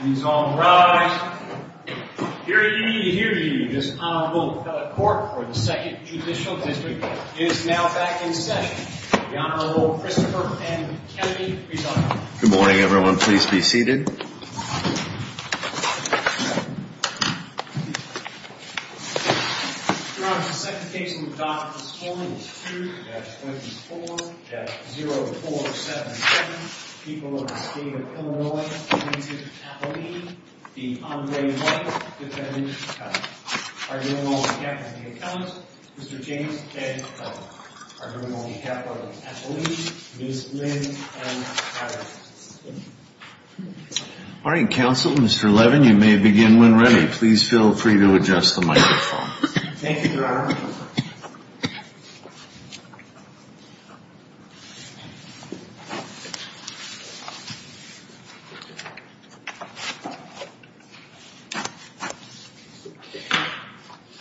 Please all rise. Hear ye, hear ye. This Honorable Court for the 2nd Judicial District is now back in session. The Honorable Christopher M. Kennedy, please rise. Good morning, everyone. Please be seated. Your Honor, the second case we've adopted this morning is 2-24-0477. The people of the state of Illinois, the District of Appalachia, the Honorable David White, defendant's cousin, our Honorable Deputy Attorney General, Mr. James F. Kellogg, our Honorable Deputy Attorney General, Ms. Lynn M. Patterson. Morning, Counsel. Mr. Levin, you may begin when ready. Please feel free to adjust the microphone. Thank you, Your Honor.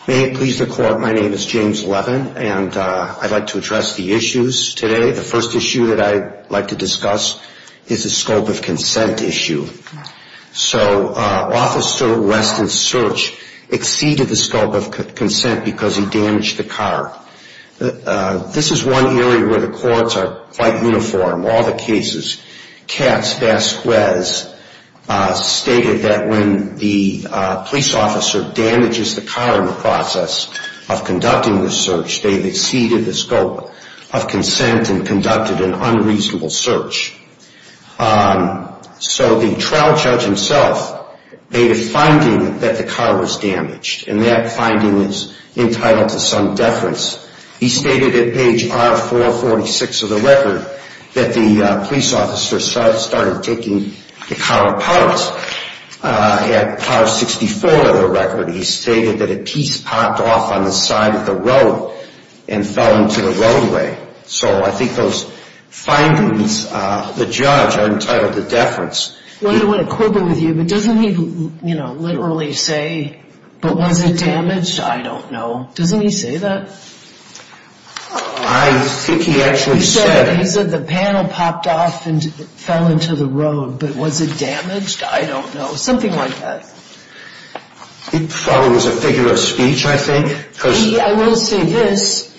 May it please the Court, my name is James Levin, and I'd like to address the issues today. The first issue that I'd like to discuss is the scope of consent issue. So, Officer Weston Search exceeded the scope of consent because he damaged the car. This is one area where the courts are quite uniform. In all the cases, Katz-Vasquez stated that when the police officer damages the car in the process of conducting the search, they've exceeded the scope of consent and conducted an unreasonable search. So the trial judge himself made a finding that the car was damaged, and that finding is entitled to some deference. He stated at page R-446 of the record that the police officer started taking the car apart. At R-64 of the record, he stated that a piece popped off on the side of the road and fell into the roadway. So I think those findings, the judge, are entitled to deference. I want to quibble with you, but doesn't he literally say, but was it damaged? I don't know. Doesn't he say that? I think he actually said... He said the panel popped off and fell into the road, but was it damaged? I don't know. Something like that. He probably was a figure of speech, I think. I will say this.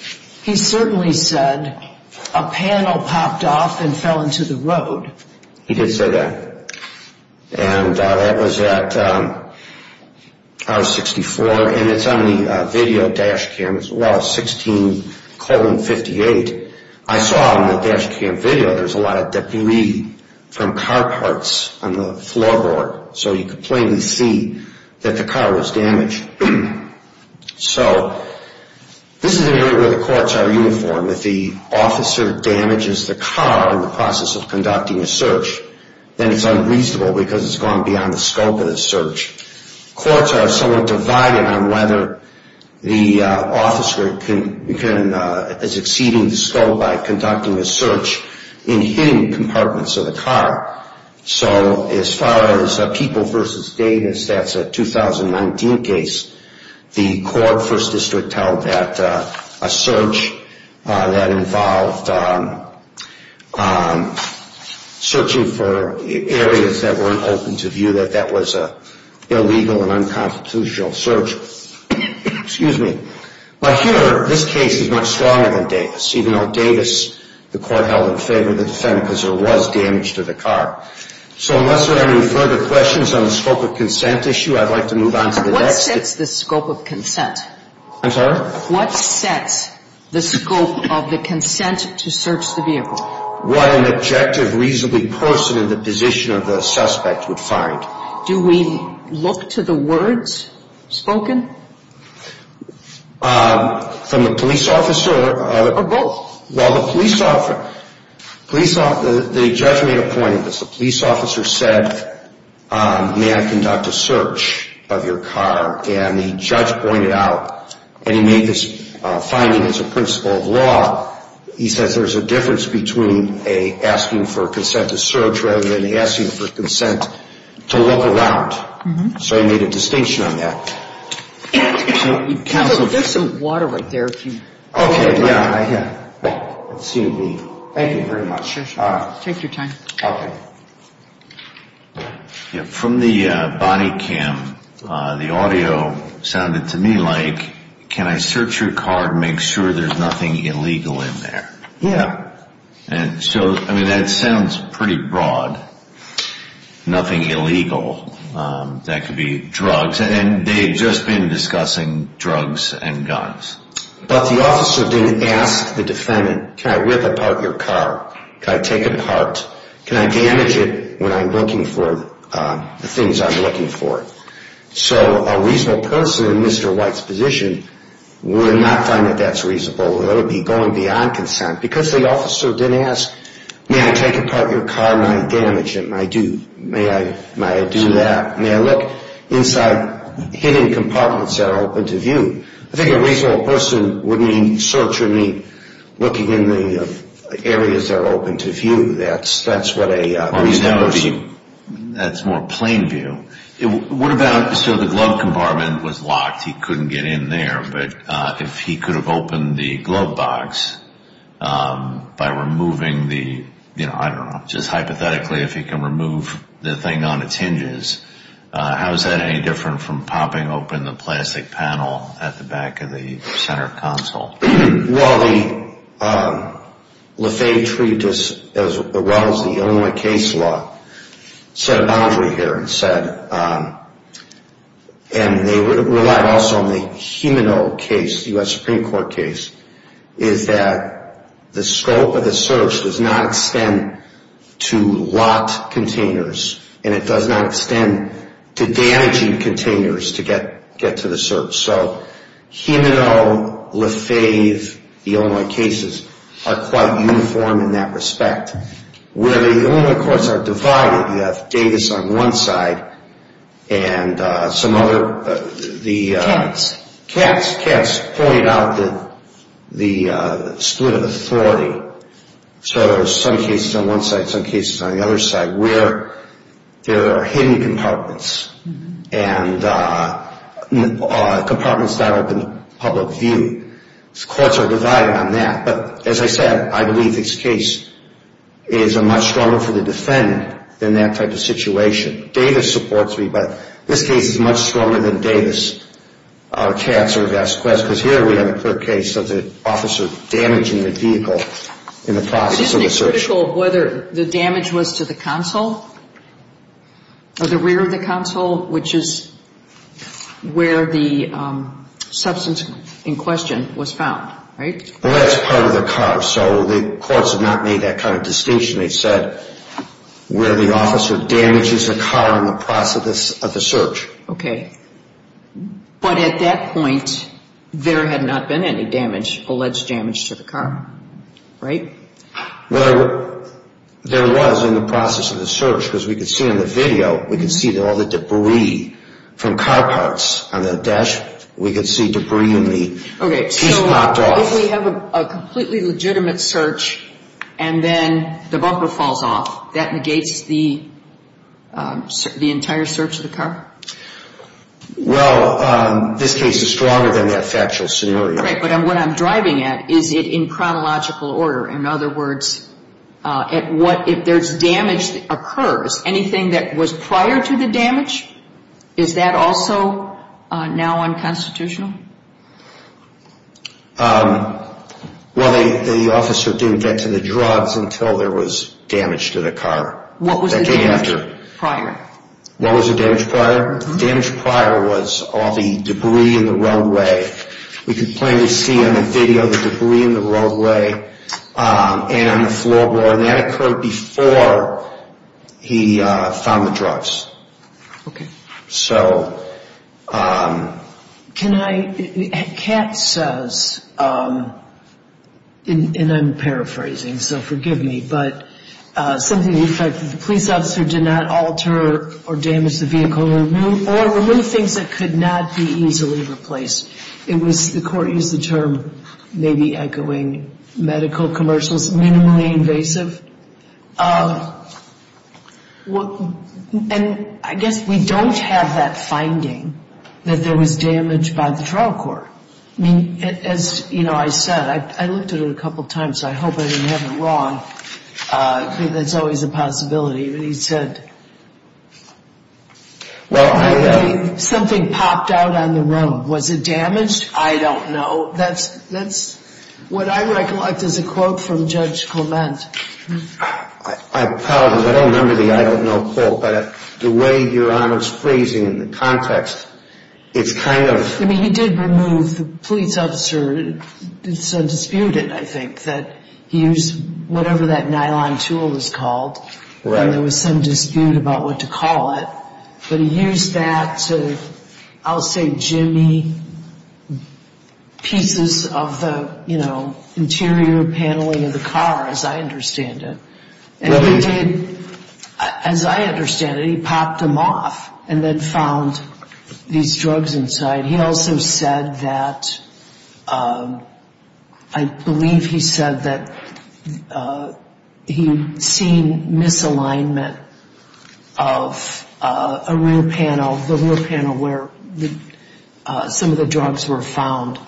He certainly said a panel popped off and fell into the road. He did say that. And that was at R-64. And it's on the video dash cam as well, 16-58. I saw on the dash cam video there's a lot of debris from car parts on the floorboard, so you could plainly see that the car was damaged. So this is an area where the courts are uniform. If the officer damages the car in the process of conducting a search, then it's unreasonable because it's gone beyond the scope of the search. Courts are somewhat divided on whether the officer is exceeding the scope by conducting a search in hidden compartments of the car. So as far as People v. Davis, that's a 2019 case. The court, First District, held that a search that involved searching for areas that weren't open to view, that that was an illegal and unconstitutional search. But here, this case is much stronger than Davis, even though Davis the court held in favor of the defendant because there was damage to the car. So unless there are any further questions on the scope of consent issue, I'd like to move on to the next. What sets the scope of consent? I'm sorry? What sets the scope of the consent to search the vehicle? What an objective, reasonably person in the position of the suspect would find. Do we look to the words spoken? From the police officer. Or both? Well, the police officer, the judge made a point of this. The police officer said, may I conduct a search of your car? And the judge pointed out, and he made this finding as a principle of law, he says there's a difference between asking for consent to search rather than asking for consent to look around. So he made a distinction on that. There's some water right there. Okay, yeah. Thank you very much. Take your time. Okay. From the body cam, the audio sounded to me like, can I search your car to make sure there's nothing illegal in there? Yeah. So that sounds pretty broad. Nothing illegal. That could be drugs. And they had just been discussing drugs and guns. But the officer didn't ask the defendant, can I rip apart your car? Can I take it apart? Can I damage it when I'm looking for the things I'm looking for? So a reasonable person in Mr. White's position would not find that that's reasonable. That would be going beyond consent. Because the officer didn't ask, may I take apart your car and not damage it? May I do that? May I look inside hidden compartments that are open to view? I think a reasonable person would mean searching, looking in the areas that are open to view. That's what a reasonable person would do. That's more plain view. What about, so the glove compartment was locked. He couldn't get in there. But if he could have opened the glove box by removing the, you know, I don't know, just hypothetically if he can remove the thing on its hinges, how is that any different from popping open the plastic panel at the back of the center console? Well, Le Fay treated this as well as the Illinois case law. Set a boundary here and said, and they relied also on the Humano case, the U.S. Supreme Court case, is that the scope of the search does not extend to locked containers and it does not extend to damaging containers to get to the search. So Humano, Le Fay, the Illinois cases are quite uniform in that respect. Where the Illinois courts are divided, you have Davis on one side and some other. Cats. Cats. Cats pointed out the split of authority. So some cases on one side, some cases on the other side where there are hidden compartments and compartments not open to public view. Courts are divided on that. But as I said, I believe this case is much stronger for the defendant than that type of situation. Davis supports me, but this case is much stronger than Davis, Cats, or Vasquez, because here we have a clear case of the officer damaging the vehicle in the process of the search. But isn't it critical of whether the damage was to the console or the rear of the console, which is where the substance in question was found, right? Well, that's part of the card. So the courts have not made that kind of distinction. They've said where the officer damages the car in the process of the search. Okay. But at that point, there had not been any damage, alleged damage to the car, right? Well, there was in the process of the search, because we could see in the video, we could see all the debris from car parts on the dash. We could see debris in the piece knocked off. If we have a completely legitimate search and then the bumper falls off, that negates the entire search of the car? Well, this case is stronger than that factual scenario. Right. But what I'm driving at, is it in chronological order? In other words, if there's damage that occurs, anything that was prior to the damage, is that also now unconstitutional? Well, the officer didn't get to the drugs until there was damage to the car. What was the damage prior? What was the damage prior? The damage prior was all the debris in the roadway. We could plainly see on the video the debris in the roadway and on the floorboard. That occurred before he found the drugs. Okay. So... Can I... Kat says, and I'm paraphrasing, so forgive me, but something to the effect that the police officer did not alter or damage the vehicle or remove things that could not be easily replaced. The court used the term, maybe echoing medical commercials, minimally invasive. And I guess we don't have that finding that there was damage by the trial court. As I said, I looked at it a couple of times, so I hope I didn't have it wrong. That's always a possibility. Well, I... Something popped out on the road. Was it damaged? I don't know. That's what I recollect as a quote from Judge Clement. I apologize. I don't remember the I don't know quote, but the way Your Honor's phrasing and the context, it's kind of... I mean, he did remove the police officer. It's undisputed, I think, that he used whatever that nylon tool was called. And there was some dispute about what to call it. But he used that to, I'll say, jimmy pieces of the interior paneling of the car, as I understand it. And he did, as I understand it, he popped them off and then found these drugs inside. He also said that, I believe he said that he'd seen misalignment of a rear panel, the rear panel where some of the drugs were found.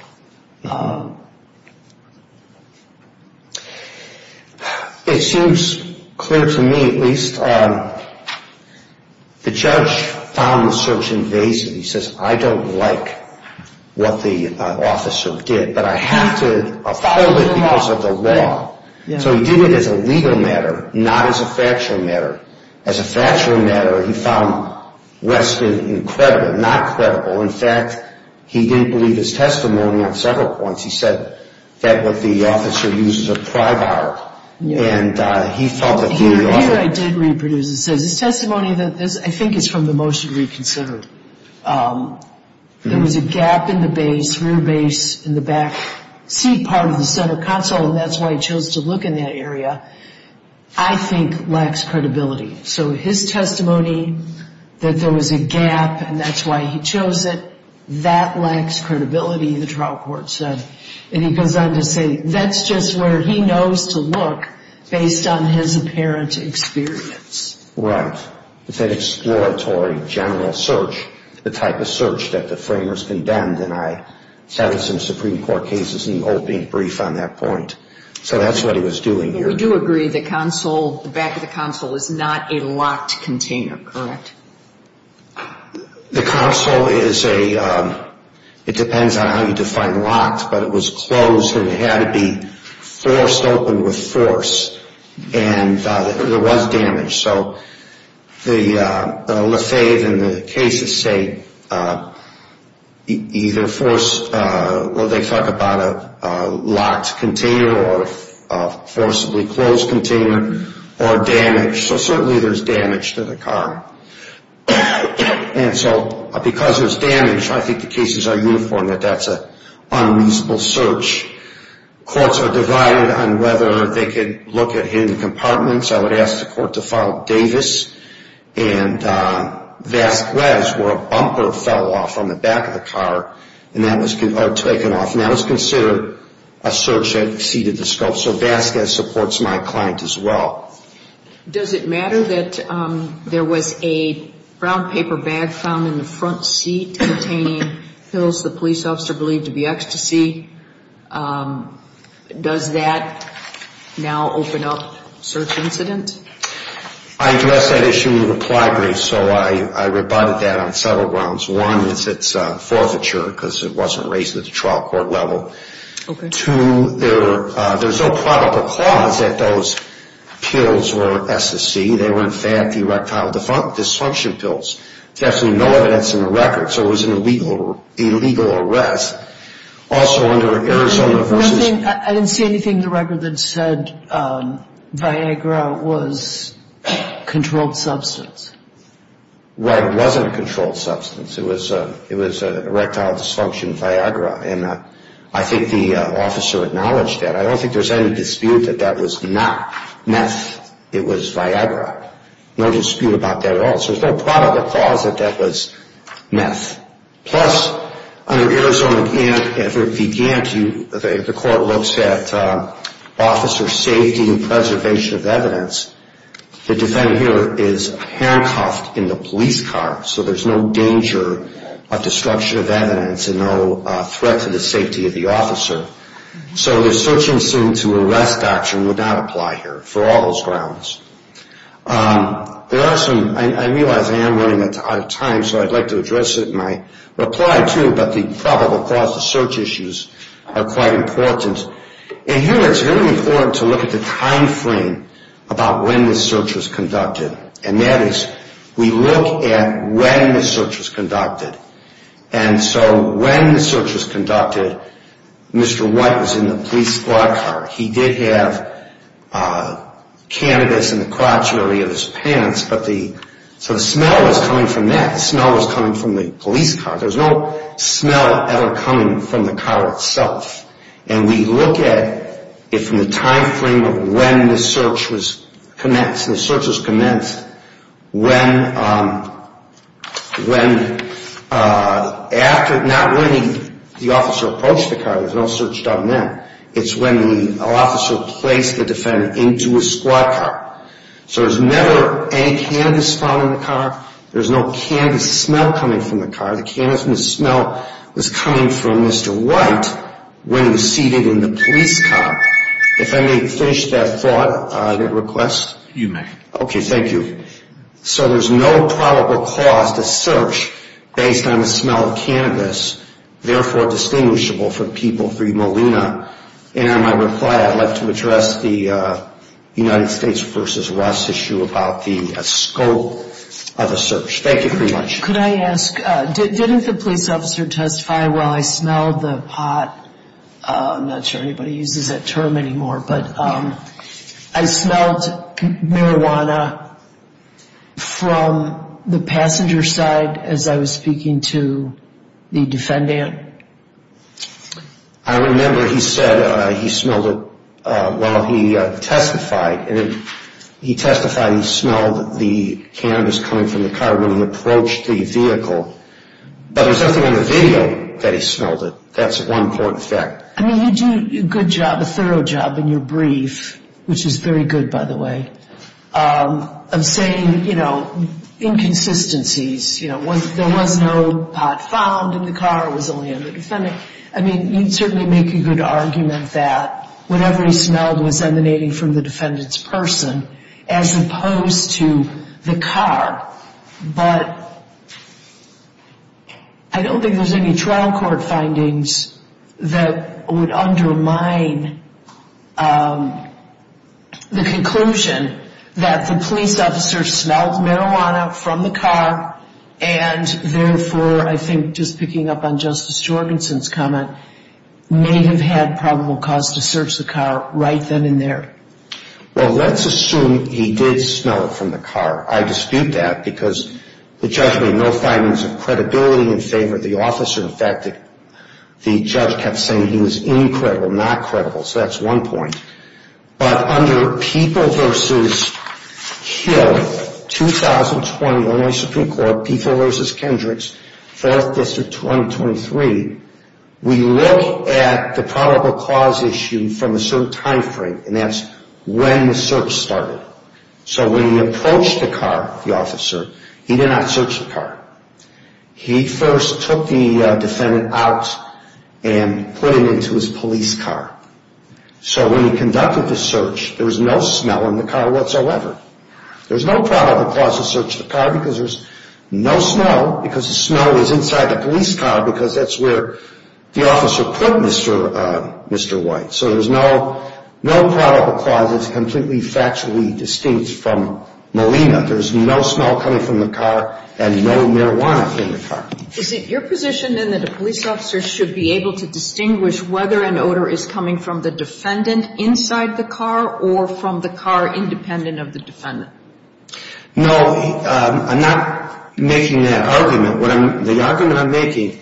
It seems clear to me, at least, the judge found the search invasive. He says, I don't like what the officer did, but I have to follow it because of the law. So he did it as a legal matter, not as a factual matter. As a factual matter, he found Weston incredible, not credible. In fact, he didn't believe his testimony on several points. He said that what the officer used was a pry bar. And he felt that the officer... This here I did reproduce. It says, this testimony, I think it's from the motion reconsidered. There was a gap in the base, rear base, in the back seat part of the center console, and that's why he chose to look in that area. I think lacks credibility. So his testimony that there was a gap and that's why he chose it, that lacks credibility, the trial court said. And he goes on to say, that's just where he knows to look based on his apparent experience. It's that exploratory general search, the type of search that the framers condemned, and I had some Supreme Court cases in the opening brief on that point. So that's what he was doing here. But we do agree the console, the back of the console, is not a locked container, correct? The console is a... It depends on how you define locked, but it was closed and it had to be forced open with force. And there was damage. So the Lafave and the cases say either force... Well, they talk about a locked container or a forcibly closed container or damage. So certainly there's damage to the car. And so because there's damage, I think the cases are uniform that that's an unreasonable search. Courts are divided on whether they can look at hidden compartments. I would ask the court to file Davis and Vasquez where a bumper fell off from the back of the car and that was taken off. And that was considered a search that exceeded the scope. So Vasquez supports my client as well. Does it matter that there was a brown paper bag found in the front seat containing pills the police officer believed to be ecstasy? Does that now open up search incident? I addressed that issue in the reply brief, so I rebutted that on several grounds. One, it's forfeiture because it wasn't raised at the trial court level. Two, there's no probable cause that those pills were ecstasy. They were in fact erectile dysfunction pills. There's absolutely no evidence in the record. So it was an illegal arrest. Also under Arizona versus... I didn't see anything in the record that said Viagra was a controlled substance. Right, it wasn't a controlled substance. It was an erectile dysfunction Viagra. And I think the officer acknowledged that. I don't think there's any dispute that that was not meth. It was Viagra. No dispute about that at all. So there's no probable cause that that was meth. Plus, under Arizona, if it began to... If the court looks at officer safety and preservation of evidence, the defendant here is handcuffed in the police car. So there's no danger of destruction of evidence and no threat to the safety of the officer. So the search and arrest option would not apply here for all those grounds. There are some... I realize I am running out of time, so I'd like to address it in my reply too. But the probable cause of search issues are quite important. And here it's really important to look at the time frame about when this search was conducted. And that is, we look at when the search was conducted. And so when the search was conducted, Mr. White was in the police squad car. He did have cannabis in the crotch area of his pants. So the smell was coming from that. The smell was coming from the police car. There was no smell ever coming from the car itself. And we look at it from the time frame of when the search was commenced. Not when the officer approached the car. There's no search done then. It's when the officer placed the defendant into his squad car. So there's never any cannabis found in the car. There's no cannabis smell coming from the car. The cannabis smell was coming from Mr. White when he was seated in the police car. If I may finish that thought, that request. You may. Okay, thank you. So there's no probable cause to search based on the smell of cannabis, therefore distinguishable from people 3 Molina. And in my reply, I'd like to address the United States v. Russ issue about the scope of the search. Thank you very much. Could I ask, didn't the police officer testify while I smelled the pot? I'm not sure anybody uses that term anymore. But I smelled marijuana from the passenger side as I was speaking to the defendant. I remember he said he smelled it while he testified. And he testified he smelled the cannabis coming from the car when he approached the vehicle. But there's nothing on the video that he smelled it. That's one important fact. I mean, you do a good job, a thorough job in your brief, which is very good, by the way, of saying, you know, inconsistencies. There was no pot found in the car. It was only on the defendant. I mean, you'd certainly make a good argument that whatever he smelled was emanating from the defendant's person as opposed to the car. But I don't think there's any trial court findings that would undermine the conclusion that the police officer smelled marijuana from the car and, therefore, I think just picking up on Justice Jorgensen's comment, may have had probable cause to search the car right then and there. Well, let's assume he did smell it from the car. I dispute that because the judge made no findings of credibility in favor of the officer. In fact, the judge kept saying he was incredible, not credible. So that's one point. But under People v. Hill, 2020 Illinois Supreme Court, People v. Kendricks, 4th District, 2023, we look at the probable cause issue from a certain time frame, and that's when the search started. So when he approached the car, the officer, he did not search the car. He first took the defendant out and put him into his police car. So when he conducted the search, there was no smell in the car whatsoever. There's no probable cause to search the car because there's no smell, because the smell is inside the police car because that's where the officer put Mr. White. So there's no probable cause that's completely factually distinct from Molina. There's no smell coming from the car and no marijuana in the car. Is it your position, then, that a police officer should be able to distinguish whether an odor is coming from the defendant inside the car or from the car independent of the defendant? No, I'm not making that argument. The argument I'm making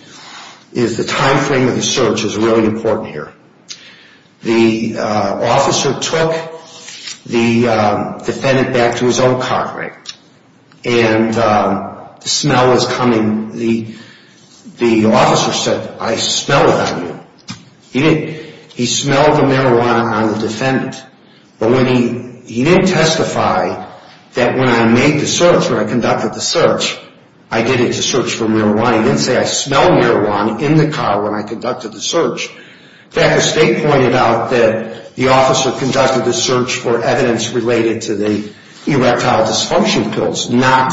is the time frame of the search is really important here. The officer took the defendant back to his own car, right, and the smell was coming. The officer said, I smell it on you. He smelled the marijuana on the defendant, but he didn't testify that when I made the search, when I conducted the search, I did it as a search for marijuana. He didn't say I smell marijuana in the car when I conducted the search. In fact, the state pointed out that the officer conducted the search for evidence related to the erectile dysfunction pills, not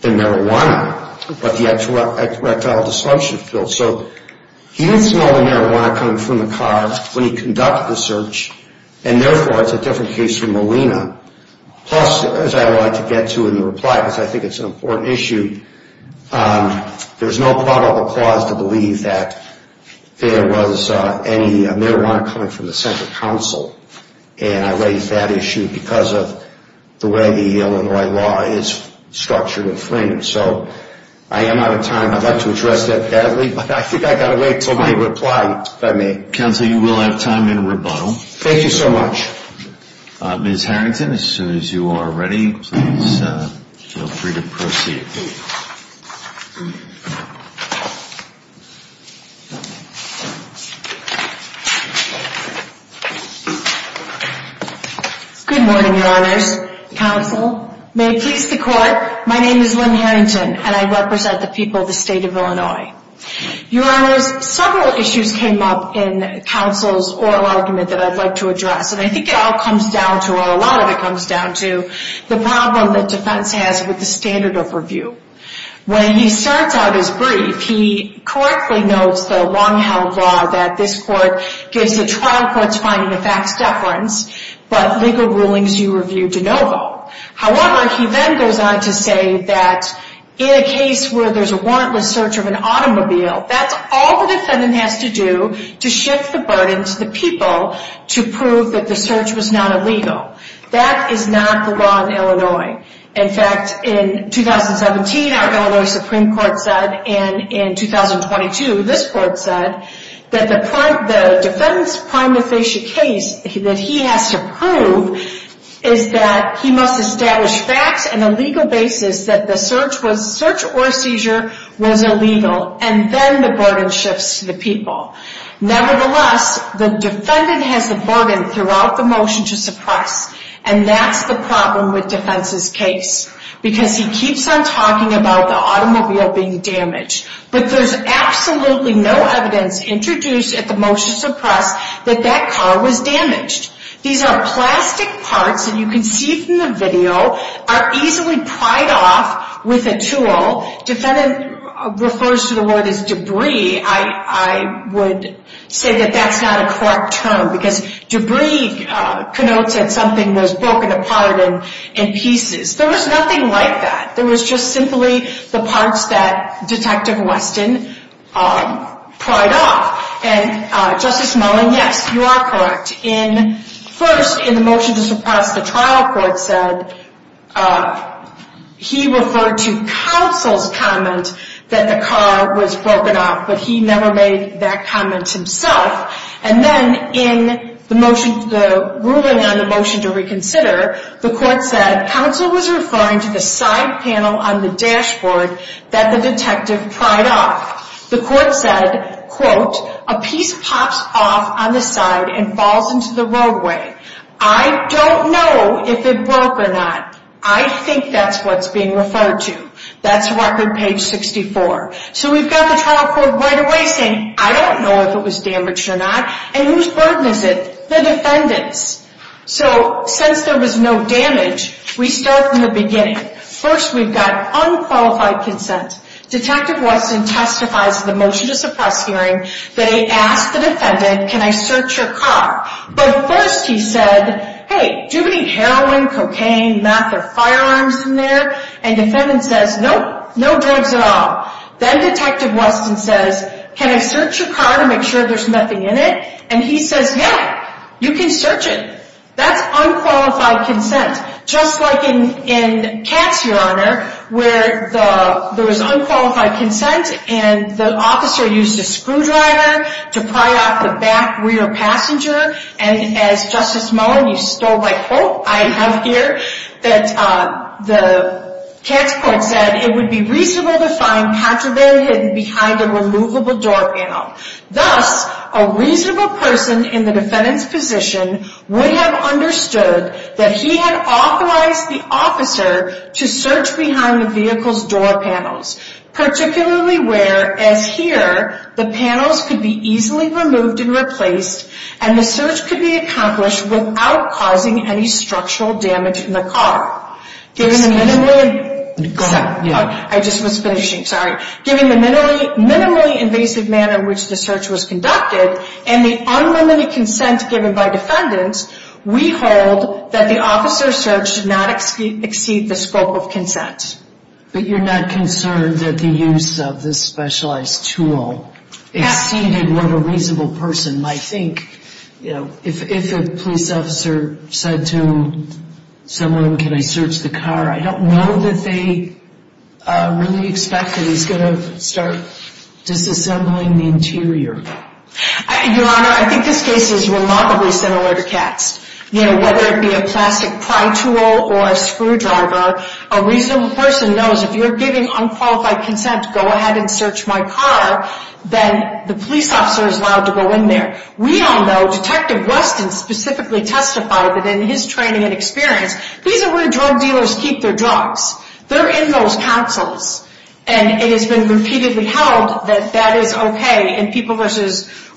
the marijuana, but the erectile dysfunction pills. So he didn't smell the marijuana coming from the car when he conducted the search, and therefore it's a different case from Molina. Plus, as I would like to get to in the reply, because I think it's an important issue, there's no probable cause to believe that there was any marijuana coming from the center counsel, and I raise that issue because of the way the Illinois law is structured and framed. So I am out of time. I'd like to address that badly, but I think I've got to wait until my reply, if I may. Counsel, you will have time in rebuttal. Thank you so much. Ms. Harrington, as soon as you are ready, please feel free to proceed. Good morning, Your Honors. Counsel, may it please the Court, my name is Lynn Harrington, and I represent the people of the state of Illinois. Your Honors, several issues came up in counsel's oral argument that I'd like to address, and I think it all comes down to, or a lot of it comes down to, the problem that defense has with the standard of review. When he starts out his brief, he correctly notes the long-held law that this Court gives the trial courts finding the facts deference, but legal rulings you review de novo. However, he then goes on to say that in a case where there's a warrantless search of an automobile, that's all the defendant has to do to shift the burden to the people to prove that the search was not illegal. That is not the law in Illinois. In fact, in 2017, our Illinois Supreme Court said, and in 2022, this Court said, that the defendant's prima facie case that he has to prove is that he must establish facts and a legal basis that the search or seizure was illegal. And then the burden shifts to the people. Nevertheless, the defendant has the burden throughout the motion to suppress, and that's the problem with defense's case. Because he keeps on talking about the automobile being damaged, but there's absolutely no evidence introduced at the motion to suppress that that car was damaged. These are plastic parts, and you can see from the video, are easily pried off with a tool. Defendant refers to the word as debris. I would say that that's not a correct term, because debris connotes that something was broken apart in pieces. There was nothing like that. There was just simply the parts that Detective Weston pried off. And Justice Mullin, yes, you are correct. First, in the motion to suppress, the trial court said he referred to counsel's comment that the car was broken off, but he never made that comment himself. And then in the ruling on the motion to reconsider, the court said, counsel was referring to the side panel on the dashboard that the detective pried off. The court said, quote, a piece pops off on the side and falls into the roadway. I don't know if it broke or not. I think that's what's being referred to. That's record page 64. So we've got the trial court right away saying, I don't know if it was damaged or not. And whose burden is it? The defendant's. So since there was no damage, we start from the beginning. First, we've got unqualified consent. Detective Weston testifies to the motion to suppress hearing that he asked the defendant, can I search your car? But first he said, hey, do we need heroin, cocaine, meth, or firearms in there? And the defendant says, nope, no drugs at all. Then Detective Weston says, can I search your car to make sure there's nothing in it? And he says, yeah, you can search it. That's unqualified consent. Just like in Katz, Your Honor, where there was unqualified consent and the officer used a screwdriver to pry off the back rear passenger. And as Justice Mullen, you stole my quote, I have here, that the Katz court said, it would be reasonable to find Pantraberry hidden behind a removable door panel. Thus, a reasonable person in the defendant's position would have understood that he had authorized the officer to search behind the vehicle's door panels. Particularly where, as here, the panels could be easily removed and replaced, and the search could be accomplished without causing any structural damage in the car. I just was finishing, sorry. Given the minimally invasive manner in which the search was conducted, and the unlimited consent given by defendants, we hold that the officer's search should not exceed the scope of consent. But you're not concerned that the use of this specialized tool exceeded what a reasonable person might think? If a police officer said to someone, can I search the car, I don't know that they really expect that he's going to start disassembling the interior. Your Honor, I think this case is remarkably similar to Katz. Whether it be a plastic pry tool or a screwdriver, a reasonable person knows if you're giving unqualified consent, go ahead and search my car, then the police officer is allowed to go in there. We all know, Detective Weston specifically testified that in his training and experience, these are where drug dealers keep their drugs. They're in those councils. And it has been repeatedly held that that is okay. In People v.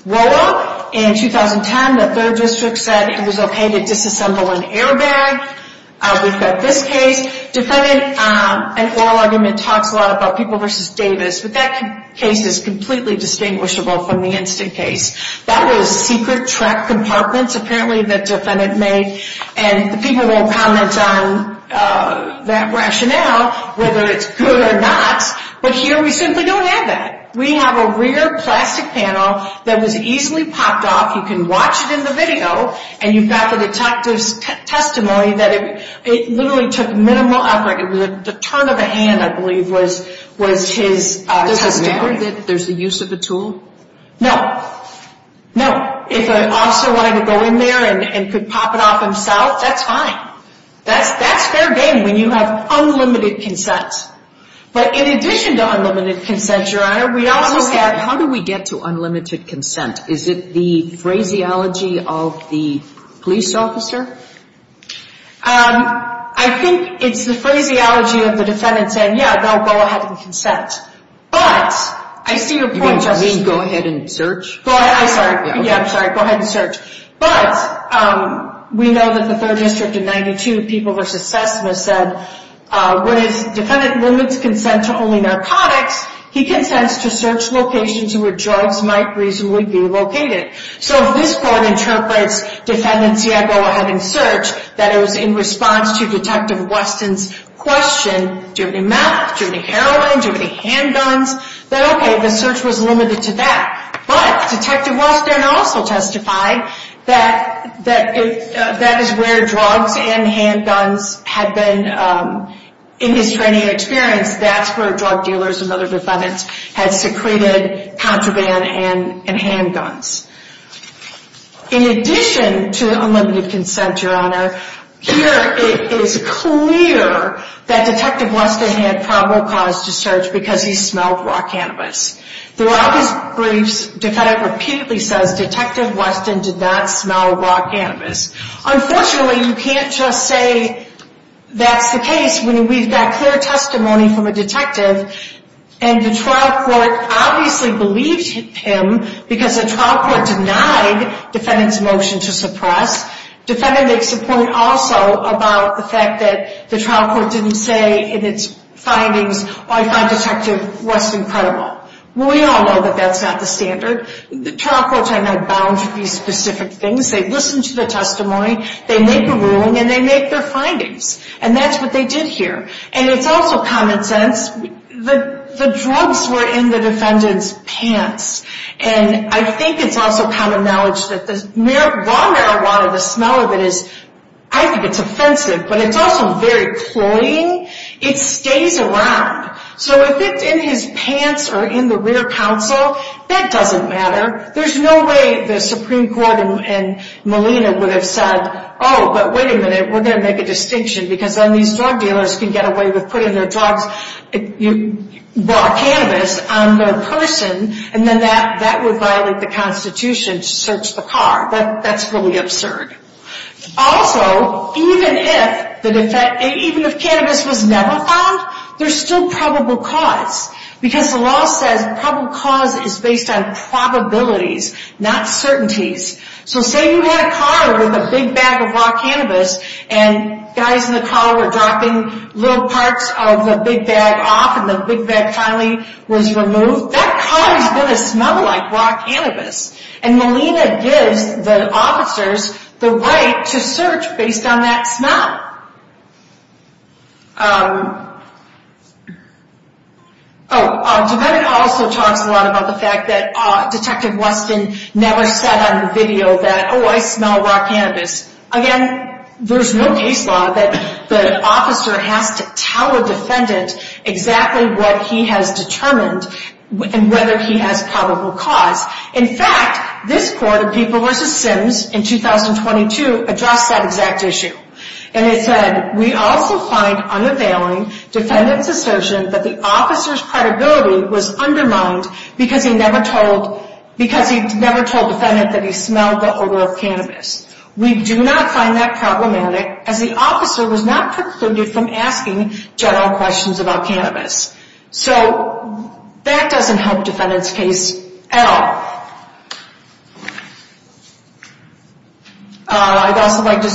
Wolo, in 2010, the 3rd District said it was okay to disassemble an airbag. We've got this case. Defendant, an oral argument talks a lot about People v. Davis, but that case is completely distinguishable from the instant case. That was secret track compartments, apparently, the defendant made, and the People won't comment on that rationale, whether it's good or not, but here we simply don't have that. We have a rear plastic panel that was easily popped off. You can watch it in the video, and you've got the detective's testimony that it literally took minimal effort. The turn of a hand, I believe, was his testimony. There's a use of the tool? No, no. If an officer wanted to go in there and could pop it off himself, that's fine. That's fair game when you have unlimited consent. But in addition to unlimited consent, Your Honor, we also have – How do we get to unlimited consent? Is it the phraseology of the police officer? I think it's the phraseology of the defendant saying, yeah, they'll go ahead and consent. You mean go ahead and search? Yeah, I'm sorry, go ahead and search. But we know that the 3rd District in 92, People v. SESMA said, when his defendant limits consent to only narcotics, he consents to search locations where drugs might reasonably be located. So if this court interprets defendant's, yeah, go ahead and search, that it was in response to Detective Weston's question, do you have any meth, do you have any heroin, do you have any handguns, that, okay, the search was limited to that. But Detective Weston also testified that that is where drugs and handguns had been. In his training experience, that's where drug dealers and other defendants had secreted contraband and handguns. In addition to unlimited consent, Your Honor, here it is clear that Detective Weston had probable cause to search because he smelled raw cannabis. Throughout his briefs, the defendant repeatedly says, Detective Weston did not smell raw cannabis. Unfortunately, you can't just say that's the case when we've got clear testimony from a detective and the trial court obviously believed him because the trial court denied defendant's motion to suppress. Defendant makes a point also about the fact that the trial court didn't say in its findings, I find Detective Weston credible. We all know that that's not the standard. The trial courts are not bound to be specific things. They listen to the testimony, they make a ruling, and they make their findings. And that's what they did here. And it's also common sense that the drugs were in the defendant's pants. And I think it's also common knowledge that the raw marijuana, the smell of it is, I think it's offensive, but it's also very cloying. It stays around. So if it's in his pants or in the rear counsel, that doesn't matter. There's no way the Supreme Court and Molina would have said, oh, but wait a minute, we're going to make a distinction because then these drug dealers can get away with putting their drugs, raw cannabis, on their person, and then that would violate the Constitution to search the car. That's really absurd. Also, even if cannabis was never found, there's still probable cause. Because the law says probable cause is based on probabilities, not certainties. So say you had a car with a big bag of raw cannabis, and guys in the car were dropping little parts of the big bag off, and the big bag finally was removed. That car is going to smell like raw cannabis. And Molina gives the officers the right to search based on that smell. Oh, the defendant also talks a lot about the fact that Detective Weston never said on the video that, oh, I smell raw cannabis. Again, there's no case law that the officer has to tell a defendant exactly what he has determined and whether he has probable cause. In fact, this court, People v. Sims, in 2022, addressed that exact issue. And it said, we also find unavailing defendant's assertion that the officer's credibility was undermined because he never told defendant that he smelled the odor of cannabis. We do not find that problematic, as the officer was not precluded from asking general questions about cannabis. So that doesn't help defendant's case at all. I'd also like to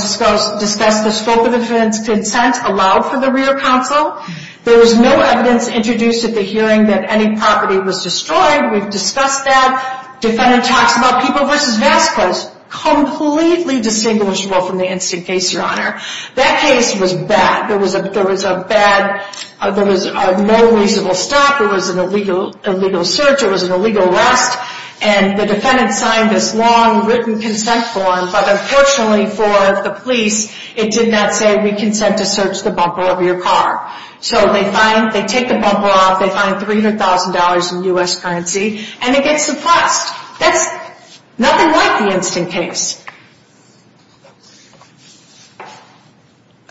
discuss the scope of defendant's consent allowed for the rear counsel. There was no evidence introduced at the hearing that any property was destroyed. We've discussed that. Defendant talks about People v. Vasquez, completely distinguishable from the instant case, Your Honor. That case was bad. There was no reasonable stop. It was an illegal search. It was an illegal arrest. And the defendant signed this long written consent form, but unfortunately for the police, it did not say we consent to search the bumper of your car. So they take the bumper off. They find $300,000 in U.S. currency. And it gets suppressed. That's nothing like the instant case.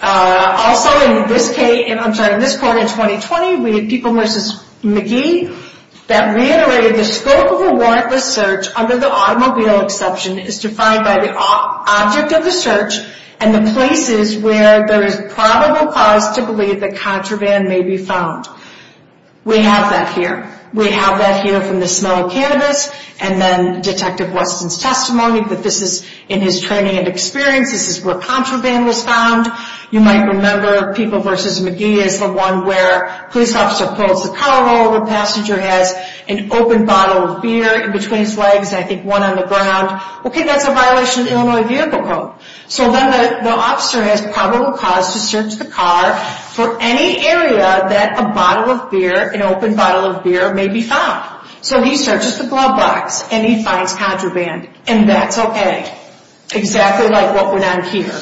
Also in this case, I'm sorry, in this court in 2020, we had People v. McGee that reiterated the scope of a warrantless search under the automobile exception is defined by the object of the search and the places where there is probable cause to believe the contraband may be found. We have that here. We have that here from the smell of cannabis and then Detective Weston's testimony that this is in his training and experience. This is where contraband was found. You might remember People v. McGee is the one where a police officer pulls the car over, the passenger has an open bottle of beer in between his legs, and I think one on the ground. Okay, that's a violation of the Illinois Vehicle Code. So then the officer has probable cause to search the car for any area that a bottle of beer, an open bottle of beer may be found. So he searches the glove box and he finds contraband, and that's okay. Exactly like what went on here.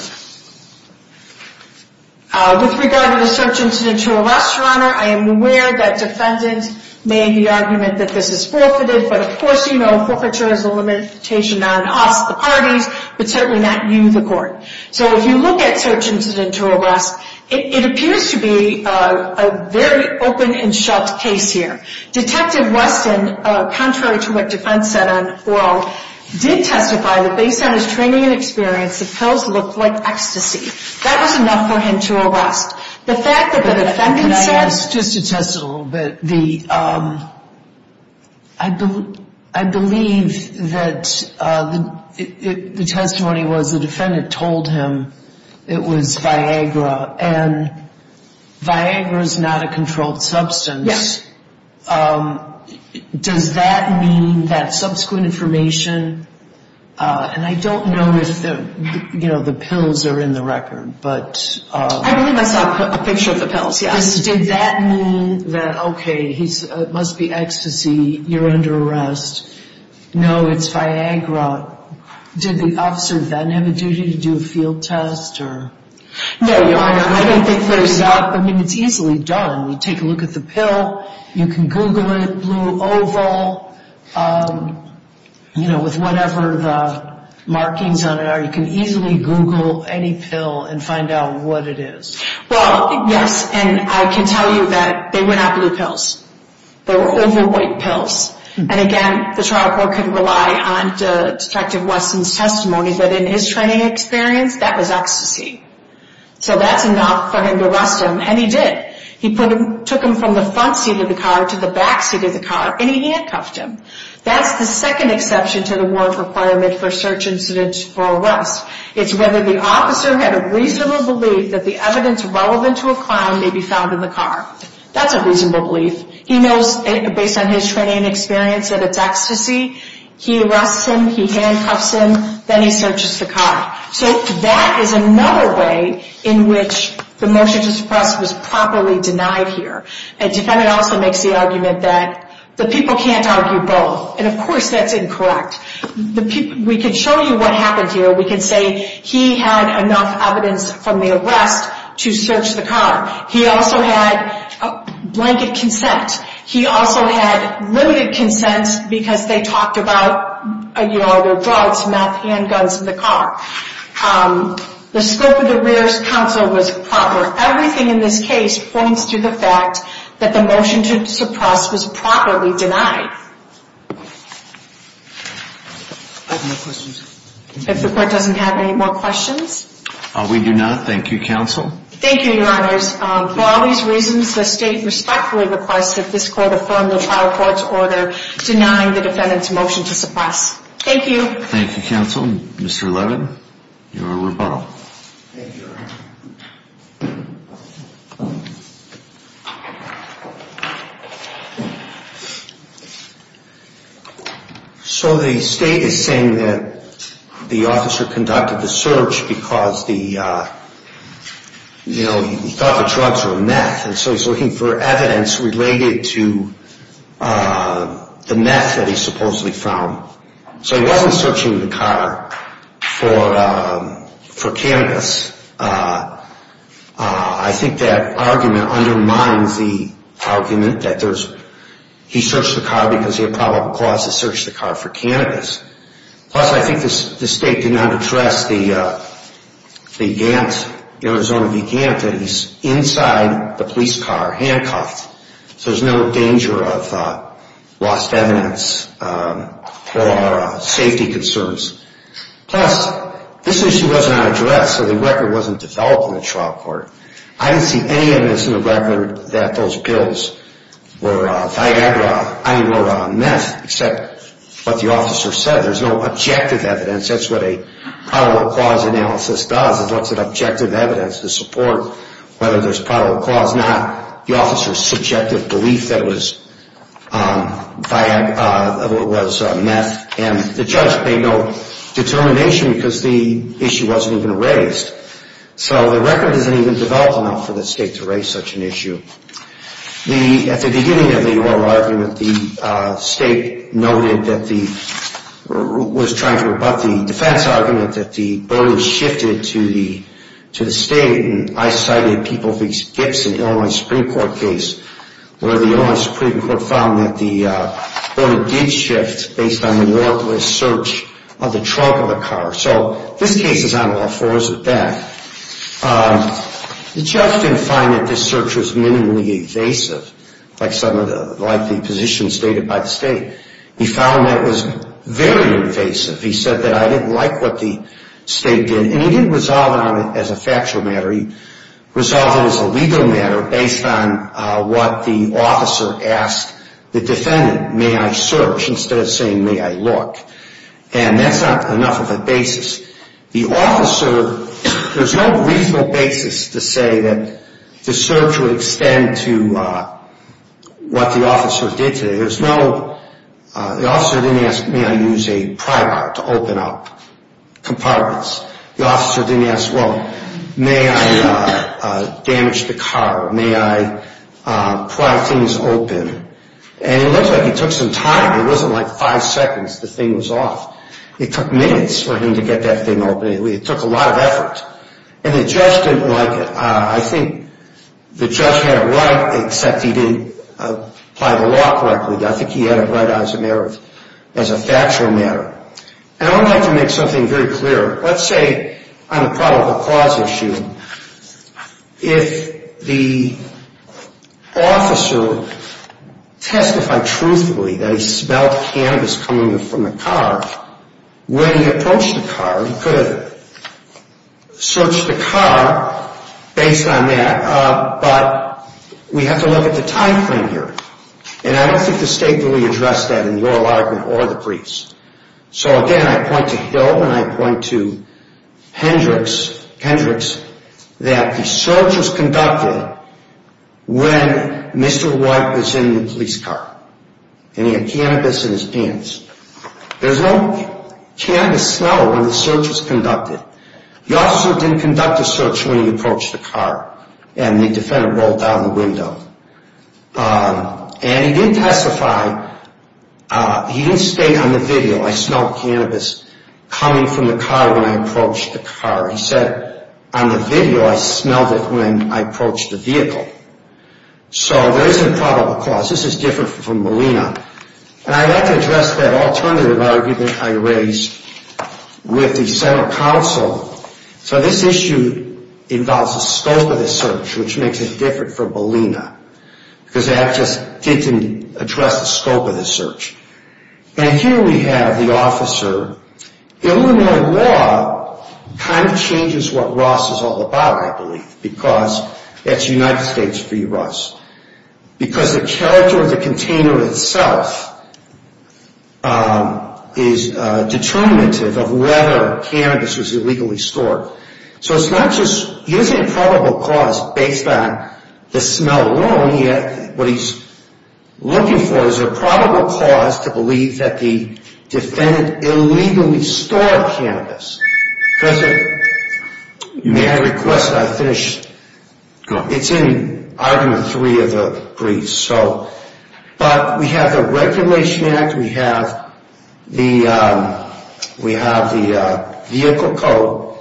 With regard to the search incident to arrest, Your Honor, I am aware that defendants made the argument that this is forfeited, but of course you know forfeiture is a limitation on us, the parties, but certainly not you, the court. So if you look at search incident to arrest, it appears to be a very open and shut case here. Detective Weston, contrary to what defense said on oral, did testify that based on his training and experience the pills looked like ecstasy. That was enough for him to arrest. The fact that the defendant said Just to test it a little bit, I believe that the testimony was the defendant told him it was Viagra and Viagra is not a controlled substance. Yes. Does that mean that subsequent information, and I don't know if the pills are in the record, but I believe I saw a picture of the pills, yes. Did that mean that, okay, it must be ecstasy, you're under arrest. No, it's Viagra. Did the officer then have a duty to do a field test or? No, Your Honor, I don't think there's that. I mean, it's easily done. You take a look at the pill, you can Google it, Blue Oval, you know, with whatever the markings on it are, you can easily Google any pill and find out what it is. Well, yes, and I can tell you that they were not blue pills. They were oval white pills. And again, the trial court could rely on Detective Weston's testimony, but in his training experience, that was ecstasy. So that's enough for him to arrest him, and he did. He took him from the front seat of the car to the back seat of the car, and he handcuffed him. That's the second exception to the warrant requirement for search incidents for arrest. It's whether the officer had a reasonable belief that the evidence relevant to a crime may be found in the car. That's a reasonable belief. He knows, based on his training and experience, that it's ecstasy. He arrests him, he handcuffs him, then he searches the car. So that is another way in which the motion to suppress was properly denied here. A defendant also makes the argument that the people can't argue both, and of course that's incorrect. We can show you what happened here. We can say he had enough evidence from the arrest to search the car. He also had blanket consent. He also had limited consent because they talked about, you know, their drugs, meth, and guns in the car. The scope of the Rear's Counsel was proper. Everything in this case points to the fact that the motion to suppress was properly denied. I have no questions. If the Court doesn't have any more questions? We do not. Thank you, Counsel. Thank you, Your Honors. For all these reasons, the State respectfully requests that this Court affirm the trial court's order denying the defendant's motion to suppress. Thank you. Thank you, Counsel. Mr. Levin, your rebuttal. Thank you, Your Honor. So the State is saying that the officer conducted the search because the, you know, he thought the drugs were meth, and so he's looking for evidence related to the meth that he supposedly found. So he wasn't searching the car for cannabis. I think that argument undermines the argument that there's, he searched the car because he had probable cause to search the car for cannabis. Plus, I think the State did not address the Gant, Arizona v. Gant, that he's inside the police car, handcuffed. So there's no danger of lost evidence or safety concerns. Plus, this issue was not addressed, so the record wasn't developed in the trial court. I didn't see any evidence in the record that those pills were Viagra, I mean were meth, except what the officer said. There's no objective evidence. That's what a probable cause analysis does, is looks at objective evidence to support whether there's probable cause or not. The officer's subjective belief that it was Viagra was meth, and the judge made no determination because the issue wasn't even raised. So the record doesn't even develop enough for the State to raise such an issue. At the beginning of the oral argument, the State noted that the, was trying to rebut the defense argument that the burden shifted to the State, and I cited Peoples v. Gibson, Illinois Supreme Court case, where the Illinois Supreme Court found that the burden did shift based on the worthless search of the trunk of the car. So this case is on all fours with that. The judge didn't find that this search was minimally invasive, like the positions stated by the State. He found that it was very invasive. He said that I didn't like what the State did, and he didn't resolve it as a factual matter. He resolved it as a legal matter based on what the officer asked the defendant, may I search, instead of saying may I look. And that's not enough of a basis. The officer, there's no reasonable basis to say that the search would extend to what the officer did today. There's no, the officer didn't ask may I use a pry bar to open up compartments. The officer didn't ask, well, may I damage the car, may I pry things open. And it looks like he took some time. It wasn't like five seconds the thing was off. It took minutes for him to get that thing open. It took a lot of effort, and the judge didn't like it. I think the judge had it right, except he didn't apply the law correctly. I think he had it right as a matter of, as a factual matter. And I would like to make something very clear. Let's say on the probable cause issue, if the officer testified truthfully that he smelled cannabis coming from the car, when he approached the car, he could have searched the car based on that. But we have to look at the time frame here. And I don't think the state really addressed that in the oral argument or the briefs. So again, I point to Hill and I point to Hendricks that the search was conducted when Mr. White was in the police car. And he had cannabis in his pants. There's no cannabis smell when the search was conducted. The officer didn't conduct the search when he approached the car. And the defendant rolled down the window. And he didn't testify. He didn't state on the video, I smelled cannabis coming from the car when I approached the car. He said on the video, I smelled it when I approached the vehicle. So there is a probable cause. This is different from Molina. And I'd like to address that alternative argument I raised with the Senate counsel. So this issue involves the scope of the search, which makes it different from Molina. Because that just didn't address the scope of the search. And here we have the officer. Illinois law kind of changes what Ross is all about, I believe. Because it's United States v. Ross. Because the character of the container itself is determinative of whether cannabis was illegally stored. So it's not just using a probable cause based on the smell alone. What he's looking for is a probable cause to believe that the defendant illegally stored cannabis. May I request that I finish? It's in argument three of the briefs. But we have the regulation act. We have the vehicle code.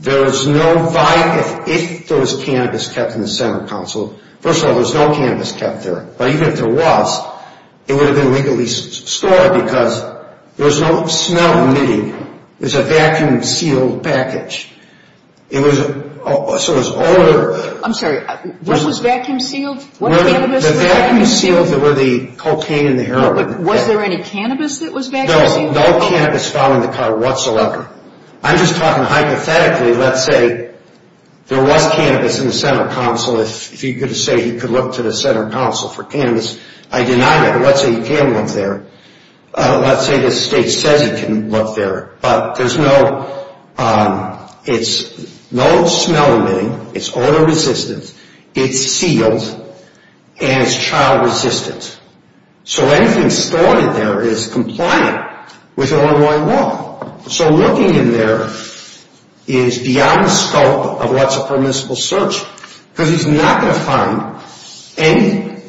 There is no violation if there was cannabis kept in the Senate counsel. First of all, there's no cannabis kept there. But even if there was, it would have been illegally stored because there's no smell in it. It's a vacuum sealed package. It was older. I'm sorry. What was vacuum sealed? The vacuum sealed were the cocaine and the heroin. Was there any cannabis that was vacuum sealed? No, no cannabis found in the car whatsoever. I'm just talking hypothetically, let's say there was cannabis in the Senate counsel. If you're going to say you could look to the Senate counsel for cannabis, I deny that. Let's say you can look there. Let's say the state says you can look there. But there's no smell in it. It's odor resistant. It's sealed. And it's child resistant. So anything stored in there is compliant with Illinois law. So looking in there is beyond the scope of what's a permissible search. Because he's not going to find any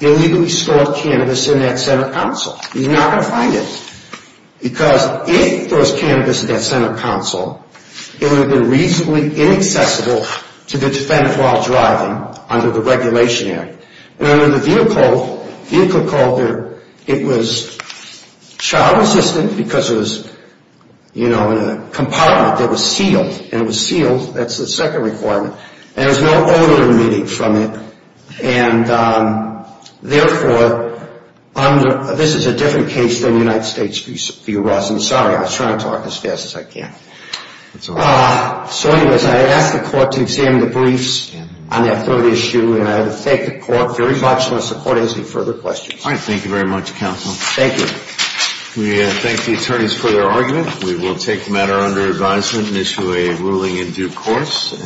illegally stored cannabis in that Senate counsel. He's not going to find it. Because if there was cannabis in that Senate counsel, it would have been reasonably inaccessible to the defendant while driving under the Regulation Act. And under the vehicle code, it was child resistant because it was, you know, in a compartment that was sealed. And it was sealed. That's the second requirement. And there was no odor emitting from it. And therefore, this is a different case than the United States view was. I'm sorry. I was trying to talk as fast as I can. That's all right. So anyways, I ask the court to examine the briefs on that third issue. And I thank the court very much. Unless the court has any further questions. All right. Thank you very much, counsel. Thank you. We thank the attorneys for their argument. We will take the matter under advisement and issue a ruling in due course.